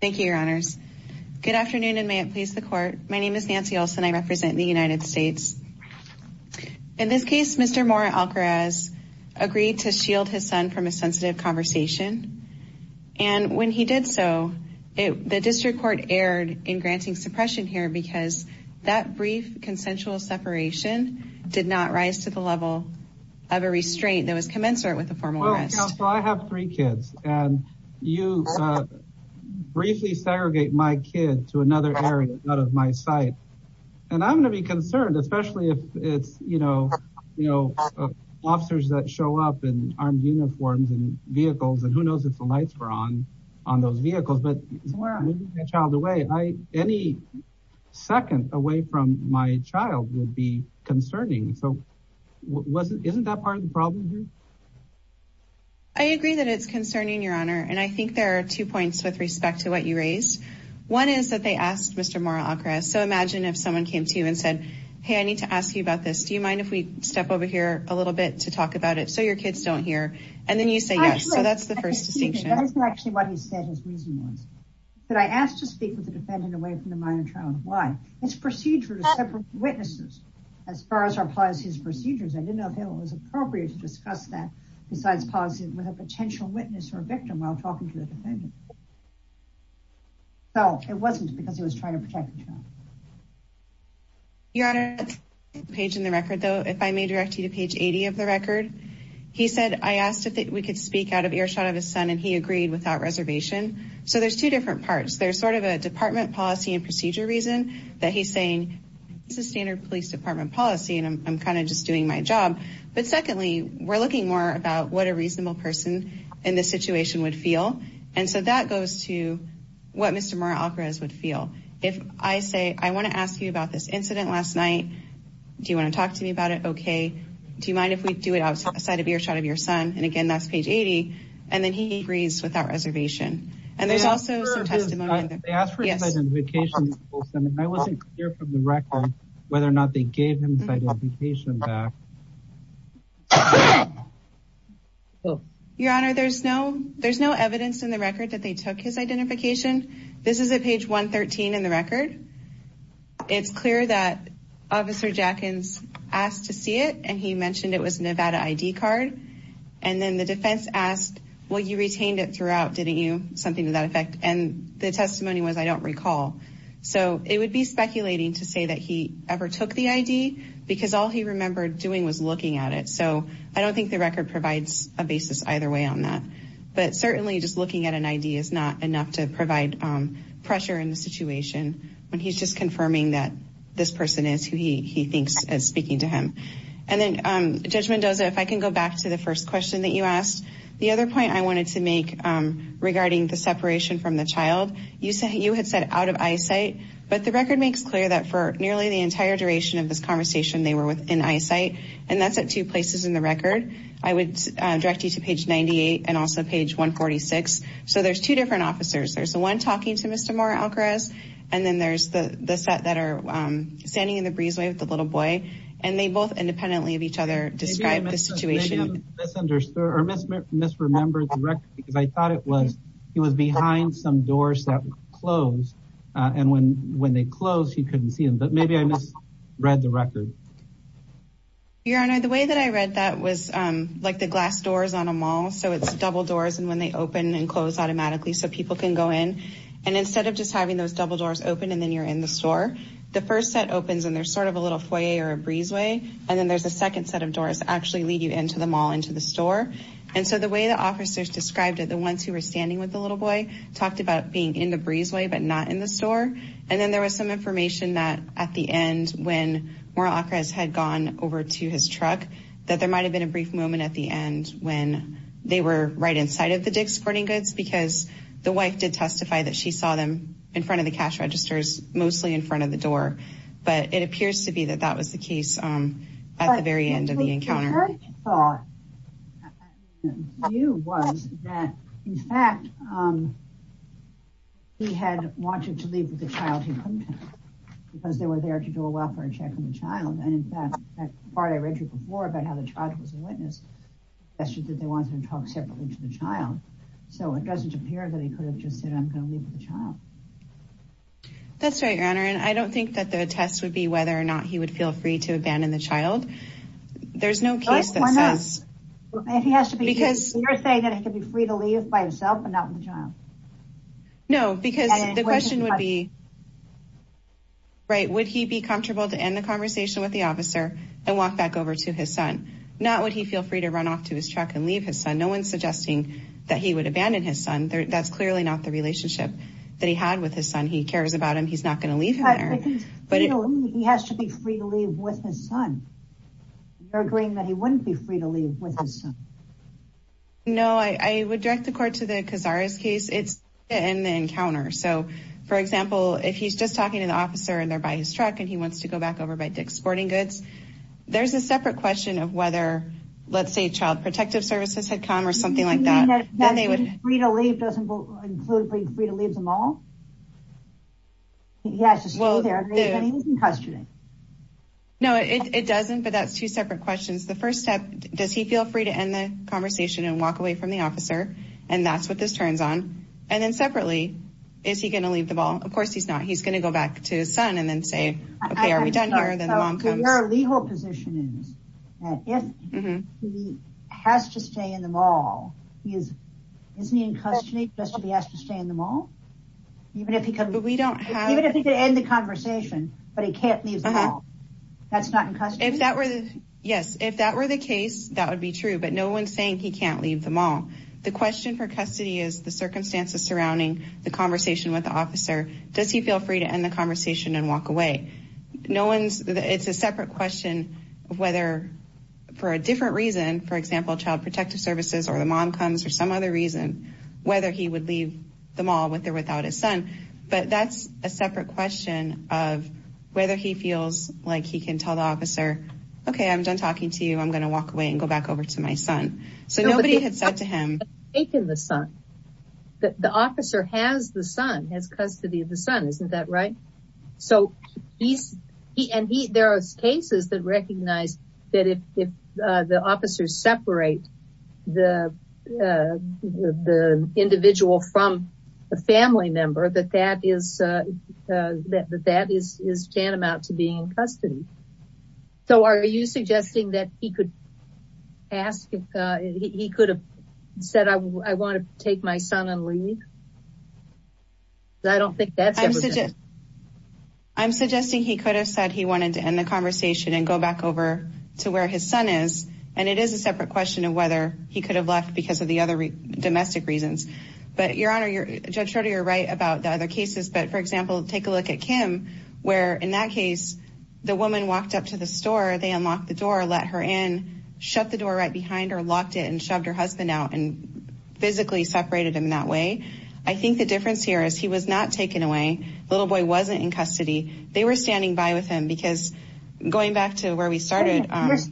Thank you, your honors. Good afternoon, and may it please the court. My name is Nancy Olson. I represent the United States. In this case, Mr. Mora-Alcaraz agreed to shield his son from a sensitive conversation. And when he did so, the district court erred in granting suppression here because that brief consensual separation did not rise to the level of a restraint that was commensurate with a formal arrest. Mr. Counsel, I have three kids, and you briefly segregate my kid to another area out of my sight. And I'm going to be concerned, especially if it's, you know, officers that show up in armed uniforms and vehicles, and who knows if the lights were on on those vehicles. But moving my child away, any second away from my child would be concerning. So isn't that part of the problem here? I agree that it's concerning, your honor, and I think there are two points with respect to what you raised. One is that they asked Mr. Mora-Alcaraz, so imagine if someone came to you and said, hey, I need to ask you about this. Do you mind if we step over here a little bit to talk about it so your kids don't hear? And then you say yes, so that's the first distinction. That isn't actually what he said his reason was. But I asked to speak with the defendant away from the minor child. Why? It's procedure to separate witnesses. As far as our policy's procedures, I didn't know if it was appropriate to discuss that besides policy with a potential witness or victim while talking to the defendant. So it wasn't because he was trying to protect the child. Your honor, page in the record, though, if I may direct you to page 80 of the record. He said I asked if we could speak out of earshot of his son and he agreed without reservation. So there's two different parts. There's sort of a department policy and procedure reason that he's saying this is standard police department policy and I'm kind of just doing my job. But secondly, we're looking more about what a reasonable person in this situation would feel. And so that goes to what Mr. Mora-Alcaraz would feel. If I say I want to ask you about this incident last night, do you want to talk to me about it? Do you mind if we do it outside of earshot of your son? And again, that's page 80. And then he agrees without reservation. And there's also some testimony. They asked for his identification. I wasn't clear from the record whether or not they gave him his identification back. Your honor, there's no evidence in the record that they took his identification. This is at page 113 in the record. It's clear that Officer Jackins asked to see it and he mentioned it was a Nevada ID card. And then the defense asked, well, you retained it throughout, didn't you? Something to that effect. And the testimony was, I don't recall. So it would be speculating to say that he ever took the ID because all he remembered doing was looking at it. So I don't think the record provides a basis either way on that. But certainly just looking at an ID is not enough to provide pressure in the situation when he's just confirming that this person is who he thinks is speaking to him. And then, Judge Mendoza, if I can go back to the first question that you asked. The other point I wanted to make regarding the separation from the child, you had said out of eyesight. But the record makes clear that for nearly the entire duration of this conversation, they were in eyesight. And that's at two places in the record. I would direct you to page 98 and also page 146. So there's two different officers. There's the one talking to Mr. Moore-Alcarez. And then there's the set that are standing in the breezeway with the little boy. And they both independently of each other describe the situation. Maybe I misunderstood or misremembered the record because I thought it was he was behind some doors that were closed. And when they closed, he couldn't see them. But maybe I misread the record. Your Honor, the way that I read that was like the glass doors on a mall. So it's double doors and when they open and close automatically so people can go in. And instead of just having those double doors open and then you're in the store, the first set opens and there's sort of a little foyer or a breezeway. And then there's a second set of doors that actually lead you into the mall, into the store. And so the way the officers described it, the ones who were standing with the little boy, talked about being in the breezeway but not in the store. And then there was some information that at the end when Moral Acres had gone over to his truck, that there might have been a brief moment at the end when they were right inside of the Dick's Sporting Goods because the wife did testify that she saw them in front of the cash registers, mostly in front of the door. But it appears to be that that was the case at the very end of the encounter. Her thought and view was that, in fact, he had wanted to leave with the child he couldn't have because they were there to do a welfare check on the child. And in fact, that part I read you before about how the child was a witness, suggested that they wanted to talk separately to the child. So it doesn't appear that he could have just said, I'm going to leave with the child. That's right, Your Honor. And I don't think that the test would be whether or not he would feel free to abandon the child. There's no case that says... You're saying that he could be free to leave by himself and not with the child. No, because the question would be, right, would he be comfortable to end the conversation with the officer and walk back over to his son? Not would he feel free to run off to his truck and leave his son. No one's suggesting that he would abandon his son. That's clearly not the relationship that he had with his son. He cares about him. He's not going to leave him there. He has to be free to leave with his son. You're agreeing that he wouldn't be free to leave with his son. No, I would direct the court to the Cazares case. It's to end the encounter. So, for example, if he's just talking to the officer and they're by his truck and he wants to go back over by Dick's Sporting Goods, there's a separate question of whether, let's say, Child Protective Services had come or something like that. You mean that being free to leave doesn't include being free to leave them all? He has to stay there even if he's in custody. No, it doesn't, but that's two separate questions. The first step, does he feel free to end the conversation and walk away from the officer? And that's what this turns on. And then separately, is he going to leave the ball? Of course he's not. He's going to go back to his son and then say, OK, are we done here? Then the mom comes. Isn't he in custody just to be asked to stay in the mall? Even if he could end the conversation, but he can't leave the mall. That's not in custody? Yes, if that were the case, that would be true. But no one's saying he can't leave the mall. The question for custody is the circumstances surrounding the conversation with the officer. Does he feel free to end the conversation and walk away? It's a separate question of whether, for a different reason, for example, child protective services or the mom comes for some other reason, whether he would leave the mall with or without his son. But that's a separate question of whether he feels like he can tell the officer, OK, I'm done talking to you. I'm going to walk away and go back over to my son. So nobody had said to him. The officer has the son, has custody of the son. Isn't that right? So there are cases that recognize that if the officers separate the individual from a family member, that that is tantamount to being in custody. So are you suggesting that he could have said, I want to take my son and leave? I don't think that's it. I'm suggesting he could have said he wanted to end the conversation and go back over to where his son is. And it is a separate question of whether he could have left because of the other domestic reasons. But, Your Honor, Judge Schroeder, you're right about the other cases. But, for example, take a look at Kim, where, in that case, the woman walked up to the store. They unlocked the door, let her in, shut the door right behind her, locked it and shoved her husband out and physically separated him that way. I think the difference here is he was not taken away. The little boy wasn't in custody. They were standing by with him because, going back to where we started,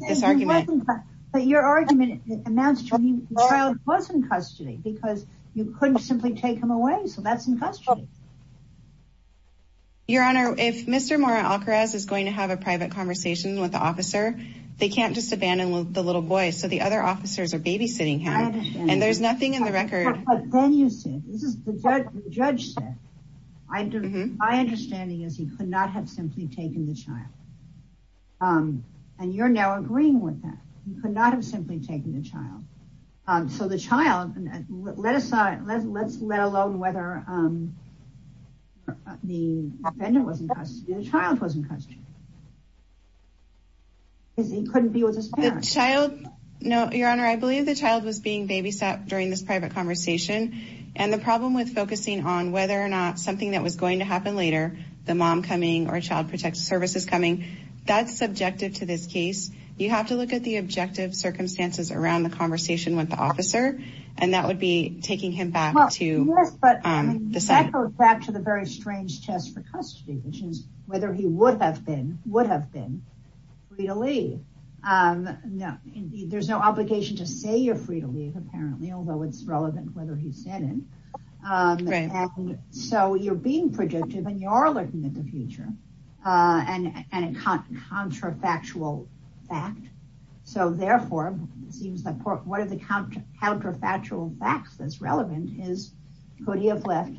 this argument. But your argument amounts to the child was in custody because you couldn't simply take him away. So that's in custody. Your Honor, if Mr. Mora-Alcaraz is going to have a private conversation with the officer, they can't just abandon the little boy. So the other officers are babysitting him. And there's nothing in the record. But then you said, the judge said, my understanding is he could not have simply taken the child. And you're now agreeing with that. He could not have simply taken the child. So the child, let's let alone whether the defendant was in custody, the child was in custody. Because he couldn't be with his parents. Your Honor, I believe the child was being babysat during this private conversation. And the problem with focusing on whether or not something that was going to happen later, the mom coming or child protective services coming, that's subjective to this case. You have to look at the objective circumstances around the conversation with the officer. And that would be taking him back to the side. That goes back to the very strange test for custody, which is whether he would have been, would have been, free to leave. There's no obligation to say you're free to leave, apparently, although it's relevant whether he said it. So you're being predictive and you are looking at the future and a counterfactual fact. So therefore, it seems that part of the counterfactual facts that's relevant is, could he have left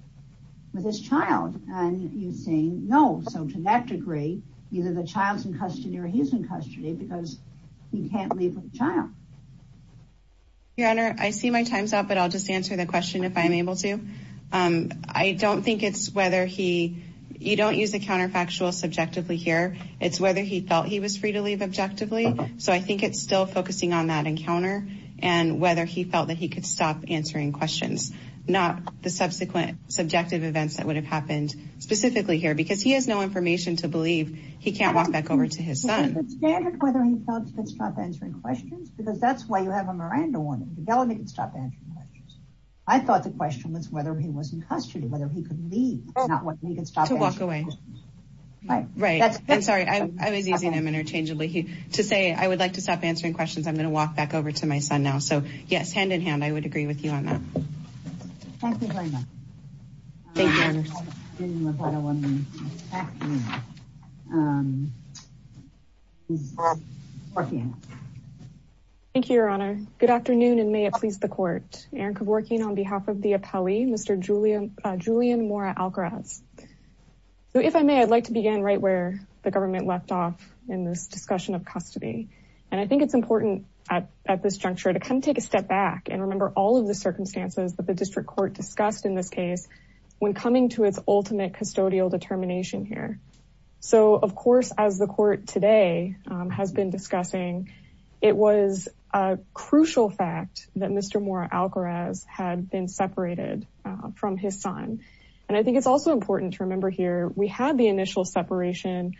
with his child? And you're saying no. So to that degree, either the child's in custody or he's in custody because he can't leave with the child. Your Honor, I see my time's up, but I'll just answer the question if I'm able to. I don't think it's whether he, you don't use the counterfactual subjectively here. It's whether he felt he was free to leave objectively. So I think it's still focusing on that encounter and whether he felt that he could stop answering questions, not the subsequent subjective events that would have happened specifically here, because he has no information to believe he can't walk back over to his son. Is it standard whether he felt he could stop answering questions? Because that's why you have a Miranda warning. The felony could stop answering questions. I thought the question was whether he was in custody, whether he could leave, not whether he could stop answering questions. To walk away. Right. Right. I'm sorry. I was using him interchangeably. To say I would like to stop answering questions, I'm going to walk back over to my son now. So yes, hand in hand, I would agree with you on that. Thank you very much. Thank you. Thank you. Thank you, Your Honor. Good afternoon and may it please the court. Erin Kevorkian on behalf of the appellee, Mr. Julian, Julian Mora Algaraz. So if I may, I'd like to begin right where the government left off in this discussion of custody. And I think it's important at this juncture to come take a step back and remember all of the circumstances that the district court discussed in this case. When coming to its ultimate custodial determination here. So, of course, as the court today has been discussing, it was a crucial fact that Mr. Mora Algaraz had been separated from his son. And I think it's also important to remember here, we had the initial separation.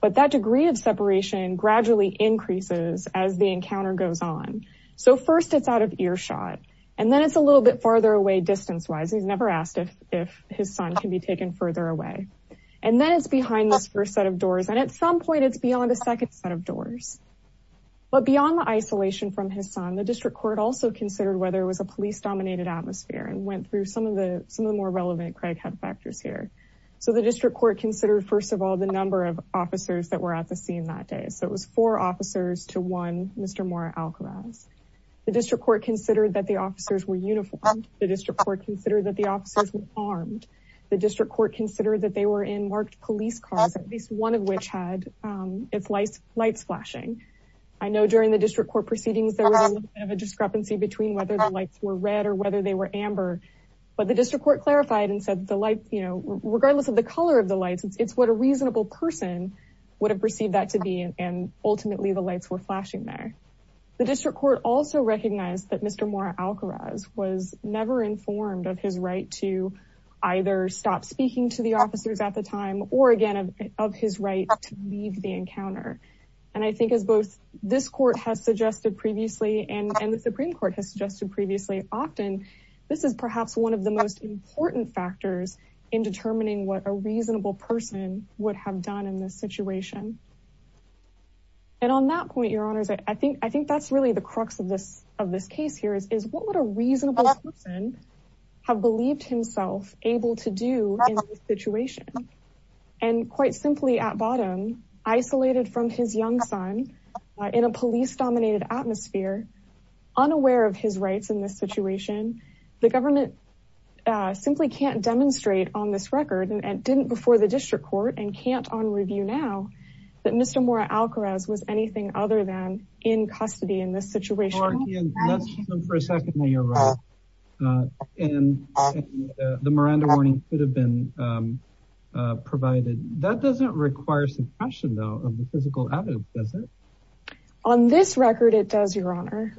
But that degree of separation gradually increases as the encounter goes on. So first it's out of earshot. And then it's a little bit farther away distance wise. He's never asked if his son can be taken further away. And then it's behind this first set of doors. And at some point it's beyond a second set of doors. But beyond the isolation from his son, the district court also considered whether it was a police dominated atmosphere and went through some of the more relevant Craighead factors here. So the district court considered, first of all, the number of officers that were at the scene that day. So it was four officers to one Mr. Mora Algaraz. The district court considered that the officers were uniformed. The district court considered that the officers were armed. The district court considered that they were in marked police cars, at least one of which had its lights flashing. I know during the district court proceedings there was a discrepancy between whether the lights were red or whether they were amber. But the district court clarified and said the light, you know, regardless of the color of the lights, it's what a reasonable person would have perceived that to be. And ultimately the lights were flashing there. The district court also recognized that Mr. Mora Algaraz was never informed of his right to either stop speaking to the officers at the time or again of his right to leave the encounter. And I think as both this court has suggested previously and the Supreme Court has suggested previously often, this is perhaps one of the most important factors in determining what a reasonable person would have done in this situation. And on that point, your honors, I think that's really the crux of this case here is what would a reasonable person have believed himself able to do in this situation? And quite simply at bottom, isolated from his young son in a police dominated atmosphere, unaware of his rights in this situation, the government simply can't demonstrate on this record and didn't before the district court and can't on review now. That Mr. Mora Algaraz was anything other than in custody in this situation for a second. And the Miranda warning could have been provided. That doesn't require suppression, though, of the physical evidence, does it? On this record, it does, your honor.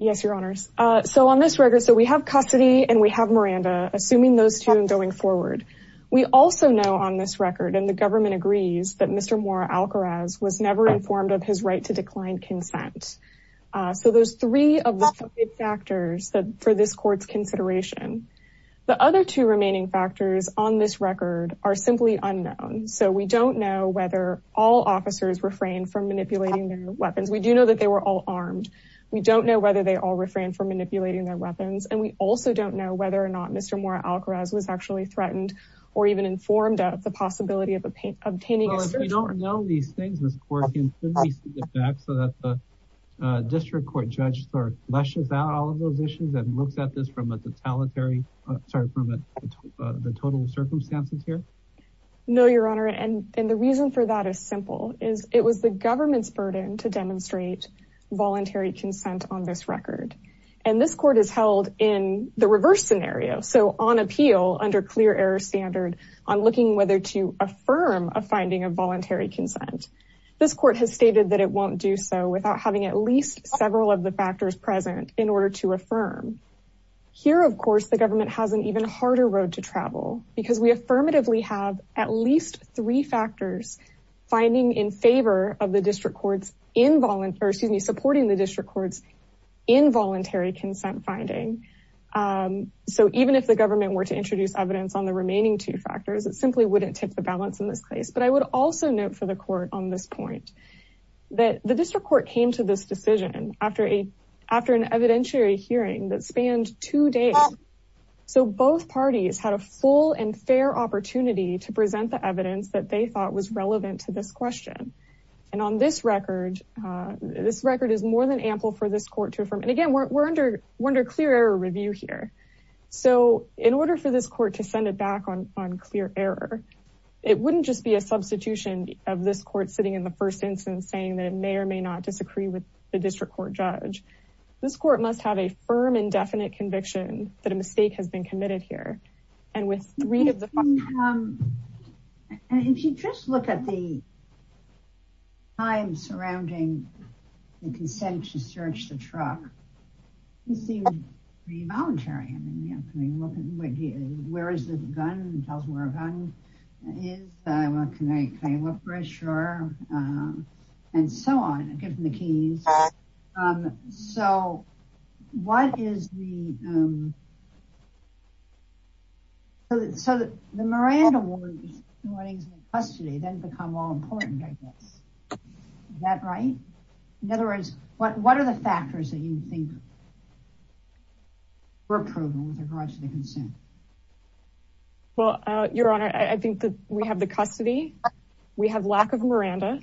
Yes, your honors. So on this record, so we have custody and we have Miranda, assuming those two and going forward. We also know on this record and the government agrees that Mr. Mora Algaraz was never informed of his right to decline consent. So there's three of the factors that for this court's consideration. The other two remaining factors on this record are simply unknown. So we don't know whether all officers refrain from manipulating their weapons. We do know that they were all armed. We don't know whether they all refrain from manipulating their weapons. And we also don't know whether or not Mr. Mora Algaraz was actually threatened or even informed of the possibility of obtaining. We don't know these things. This court can get back so that the district court judge sort of flushes out all of those issues and looks at this from a totalitarian. Sorry, from the total circumstances here. No, your honor. And the reason for that is simple is it was the government's burden to demonstrate voluntary consent on this record. And this court is held in the reverse scenario. So on appeal under clear air standard on looking whether to affirm a finding of voluntary consent. This court has stated that it won't do so without having at least several of the factors present in order to affirm here. Of course, the government has an even harder road to travel because we affirmatively have at least three factors finding in favor of the district courts. Involuntary supporting the district courts. Involuntary consent finding. So even if the government were to introduce evidence on the remaining two factors, it simply wouldn't tip the balance in this case. But I would also note for the court on this point that the district court came to this decision after an evidentiary hearing that spanned two days. So both parties had a full and fair opportunity to present the evidence that they thought was relevant to this question. And on this record, this record is more than ample for this court to affirm. And again, we're under clear air review here. So in order for this court to send it back on on clear error, it wouldn't just be a substitution of this court sitting in the first instance saying that it may or may not disagree with the district court judge. This court must have a firm and definite conviction that a mistake has been committed here. And with three of the. If you just look at the time surrounding the consent to search the truck. He seemed pretty voluntary. Where is the gun tells where a gun is. Can I look for a sure. And so on, given the keys. So what is the. So the Miranda warnings custody then become all important. That right. In other words, what are the factors that you think. Approval with regards to the consent. Well, Your Honor, I think that we have the custody. We have lack of Miranda.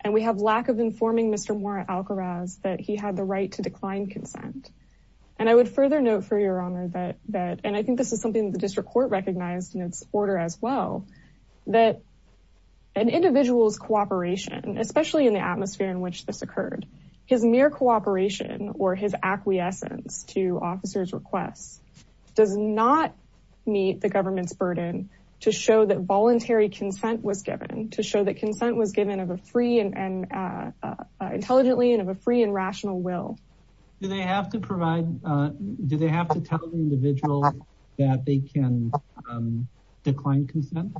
And we have lack of informing Mr. That he had the right to decline consent. And I would further note for your honor that that and I think this is something the district court recognized in its order as well. An individual's cooperation, especially in the atmosphere in which this occurred. His mere cooperation or his acquiescence to officers requests. Does not meet the government's burden to show that voluntary consent was given to show that consent was given of a free and intelligently and of a free and rational will. Do they have to provide, do they have to tell the individual that they can decline consent.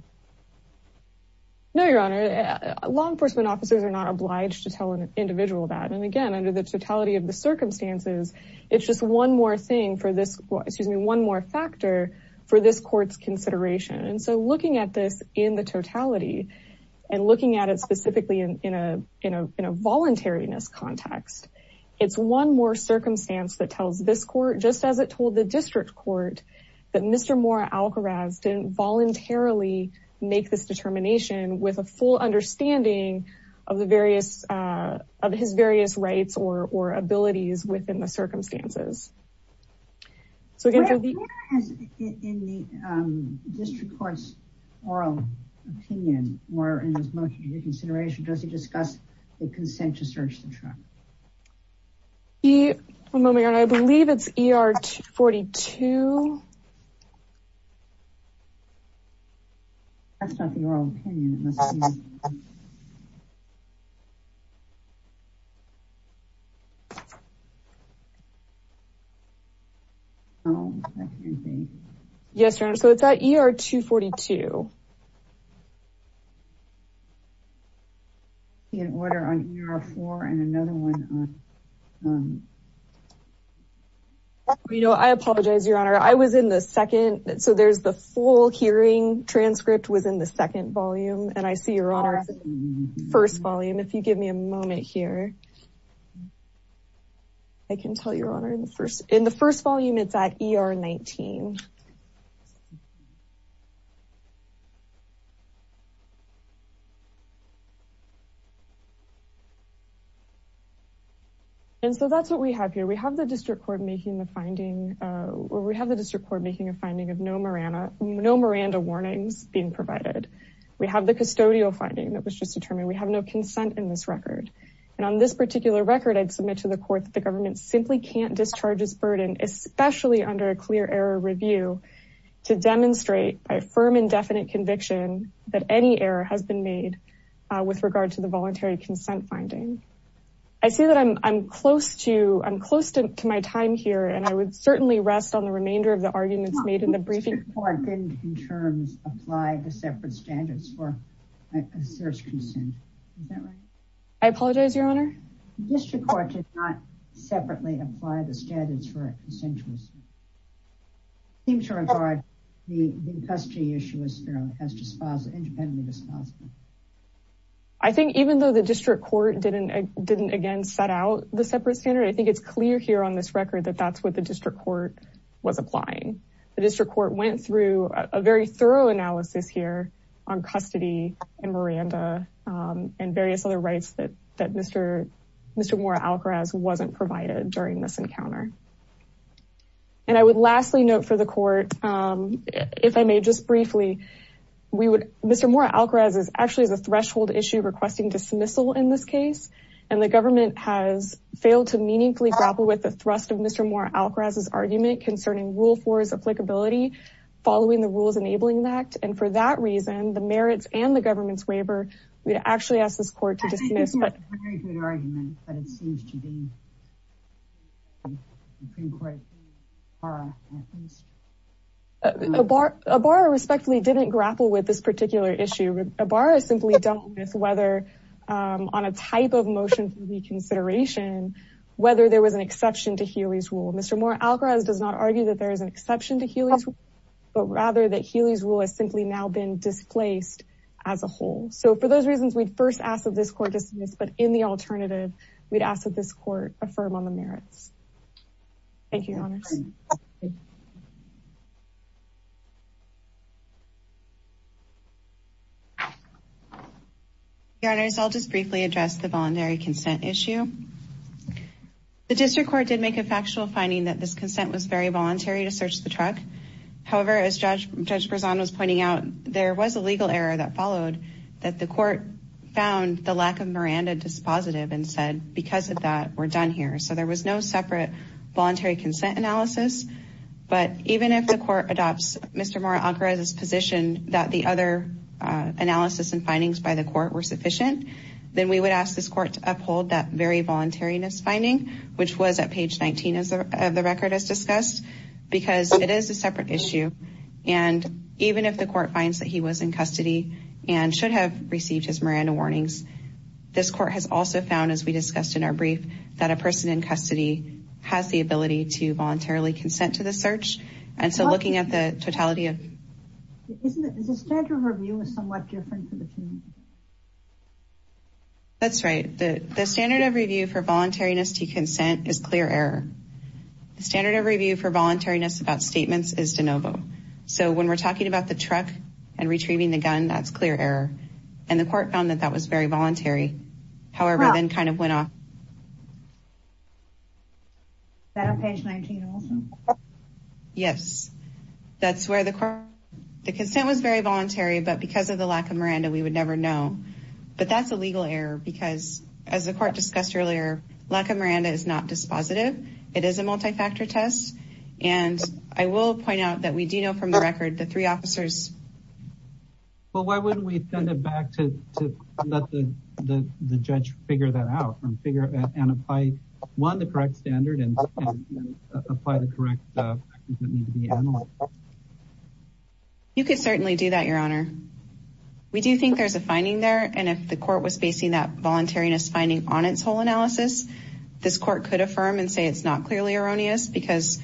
No, Your Honor, law enforcement officers are not obliged to tell an individual that. And again, under the totality of the circumstances, it's just one more thing for this, excuse me, one more factor for this court's consideration. And so looking at this in the totality and looking at it specifically in a, in a, in a voluntariness context. It's one more circumstance that tells this court, just as it told the district court that Mr. Didn't voluntarily make this determination with a full understanding of the various of his various rights or, or abilities within the circumstances. So again, in the district court's oral opinion, or in his motion to reconsideration, does he discuss the consent to search the truck? I believe it's ER 42. That's not the oral opinion. Oh, I can't see. Yes, Your Honor. So it's at ER 242. In order on ER 4 and another one. You know, I apologize, Your Honor. I was in the second. So there's the full hearing transcript was in the second volume. And I see Your Honor first volume. If you give me a moment here. I can tell Your Honor in the first, in the first volume, it's at ER 19. And so that's what we have here. We have the district court making the finding where we have the district court making a finding of no Miranda, no Miranda warnings being provided. We have the custodial finding that was just determined. We have no consent in this record. And on this particular record, I'd submit to the court that the government simply can't discharge this burden, especially under a clear error review to demonstrate a firm and definite conviction that any error has been made with regard to the voluntary consent finding. I see that I'm close to, I'm close to my time here. And I would certainly rest on the remainder of the arguments made in the briefing. The district court didn't in terms apply the separate standards for a search consent. Is that right? I apologize, Your Honor. District court did not separately apply the standards for a consensual. Seems to regard the custody issue as fairly as disposable independently disposable. I think even though the district court didn't didn't again set out the separate standard, I think it's clear here on this record that that's what the district court was applying. The district court went through a very thorough analysis here on custody and Miranda and various other rights that Mr. Mr. More Alcaraz wasn't provided during this encounter. And I would lastly note for the court, if I may just briefly, we would Mr. More Alcaraz's argument concerning rule for his applicability, following the rules, enabling that. And for that reason, the merits and the government's waiver, we actually asked this court to dismiss. But it seems to be. Right. A bar, a bar respectfully didn't grapple with this particular issue. A bar is simply don't know whether on a type of motion for reconsideration, whether there was an exception to Healy's rule. Mr. More Alcaraz does not argue that there is an exception to Healy's. But rather that Healy's rule is simply now been displaced as a whole. So for those reasons, we'd first ask that this court dismiss. But in the alternative, we'd ask that this court affirm on the merits. Thank you. Honors. I'll just briefly address the voluntary consent issue. The district court did make a factual finding that this consent was very voluntary to search the truck. However, as judge was pointing out, there was a legal error that followed that the court found the lack of Miranda dispositive and said, because of that, we're done here. So there was no separate voluntary consent analysis. But even if the court adopts Mr. More Alcaraz's position that the other analysis and findings by the court were sufficient. Then we would ask this court to uphold that very voluntariness finding, which was at page 19 of the record as discussed. Because it is a separate issue. And even if the court finds that he was in custody and should have received his Miranda warnings. This court has also found, as we discussed in our brief, that a person in custody has the ability to voluntarily consent to the search. And so looking at the totality of the standard of review is somewhat different. That's right. The standard of review for voluntariness to consent is clear error. The standard of review for voluntariness about statements is de novo. So when we're talking about the truck and retrieving the gun, that's clear error. And the court found that that was very voluntary. However, then kind of went off. Page 19. Yes, that's where the consent was very voluntary. But because of the lack of Miranda, we would never know. But that's a legal error because, as the court discussed earlier, lack of Miranda is not dispositive. It is a multi-factor test. And I will point out that we do know from the record the three officers. Well, why wouldn't we send it back to let the judge figure that out and figure it out and apply, one, the correct standard and apply the correct factors that need to be analyzed? You could certainly do that, Your Honor. We do think there's a finding there. And if the court was basing that voluntariness finding on its whole analysis, this court could affirm and say it's not clearly erroneous. Because,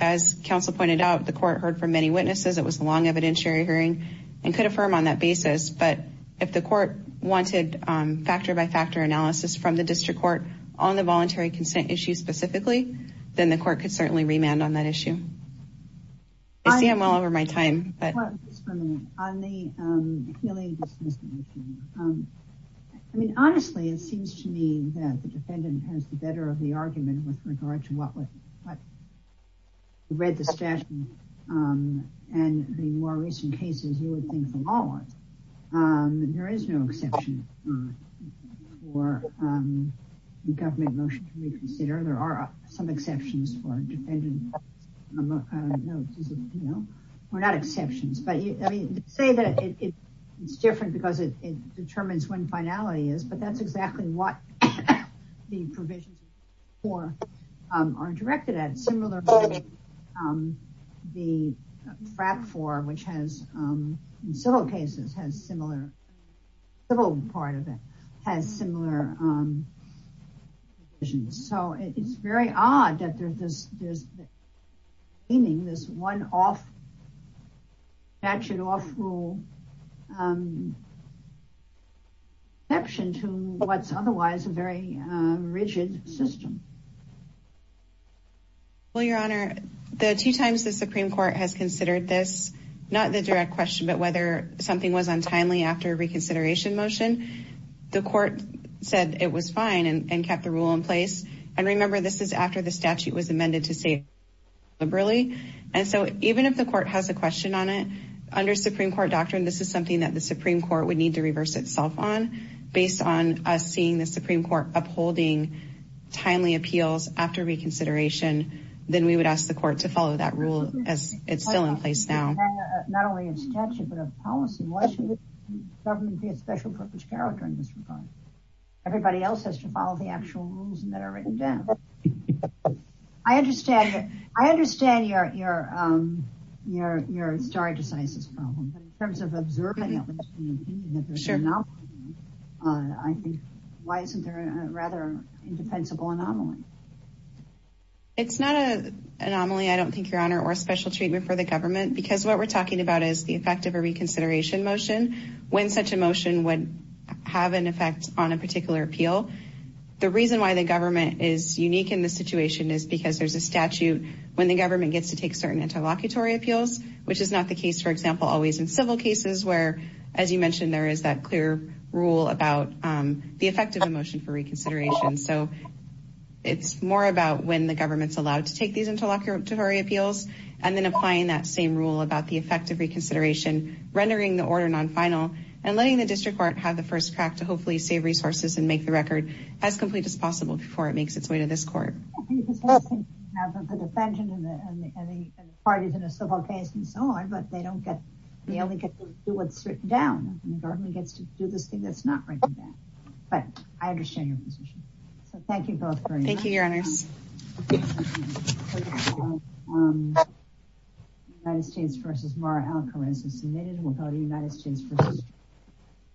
as counsel pointed out, the court heard from many witnesses. It was a long evidentiary hearing and could affirm on that basis. But if the court wanted factor-by-factor analysis from the district court on the voluntary consent issue specifically, then the court could certainly remand on that issue. I see I'm well over my time. On the healing dispensation, I mean, honestly, it seems to me that the defendant has the better of the argument with regard to what we read the statute and the more recent cases you would think the law was. There is no exception for the government motion to reconsider. There are some exceptions for defending. We're not exceptions. But you say that it's different because it determines when finality is. But that's exactly what the provisions for are directed at. The FRAP for which has in civil cases has similar civil part of it has similar. So it's very odd that there's this. Meaning this one off. Action off rule. Action to what's otherwise a very rigid system. Well, Your Honor, the two times the Supreme Court has considered this, not the direct question, but whether something was untimely after reconsideration motion, the court said it was fine and kept the rule in place. And remember, this is after the statute was amended to say liberally. And so even if the court has a question on it under Supreme Court doctrine, this is something that the Supreme Court would need to reverse itself on based on us seeing the Supreme Court upholding timely appeals after reconsideration. Then we would ask the court to follow that rule as it's still in place now. Not only in statute, but a policy. Everybody else has to follow the actual rules that are written down. I understand. I understand you're you're you're you're starting to size this problem in terms of observing. I think why isn't there a rather indefensible anomaly? It's not a anomaly, I don't think, Your Honor, or a special treatment for the government, because what we're talking about is the effect of a reconsideration motion when such a motion would have an effect on a particular appeal. The reason why the government is unique in this situation is because there's a statute when the government gets to take certain interlocutory appeals, which is not the case, for example, always in civil cases where, as you mentioned, there is that clear rule about the effect of a motion for reconsideration. So it's more about when the government's allowed to take these interlocutory appeals and then applying that same rule about the effect of reconsideration, rendering the order non-final and letting the district court have the first crack to hopefully save resources and make the record as complete as possible before it makes its way to this court. The defendant and the parties in a civil case and so on, but they don't get they only get to do what's written down and the government gets to do this thing that's not written down. But I understand your position. So thank you both. Thank you, Your Honors. United States versus Mara Alcoranza submitted without a United States.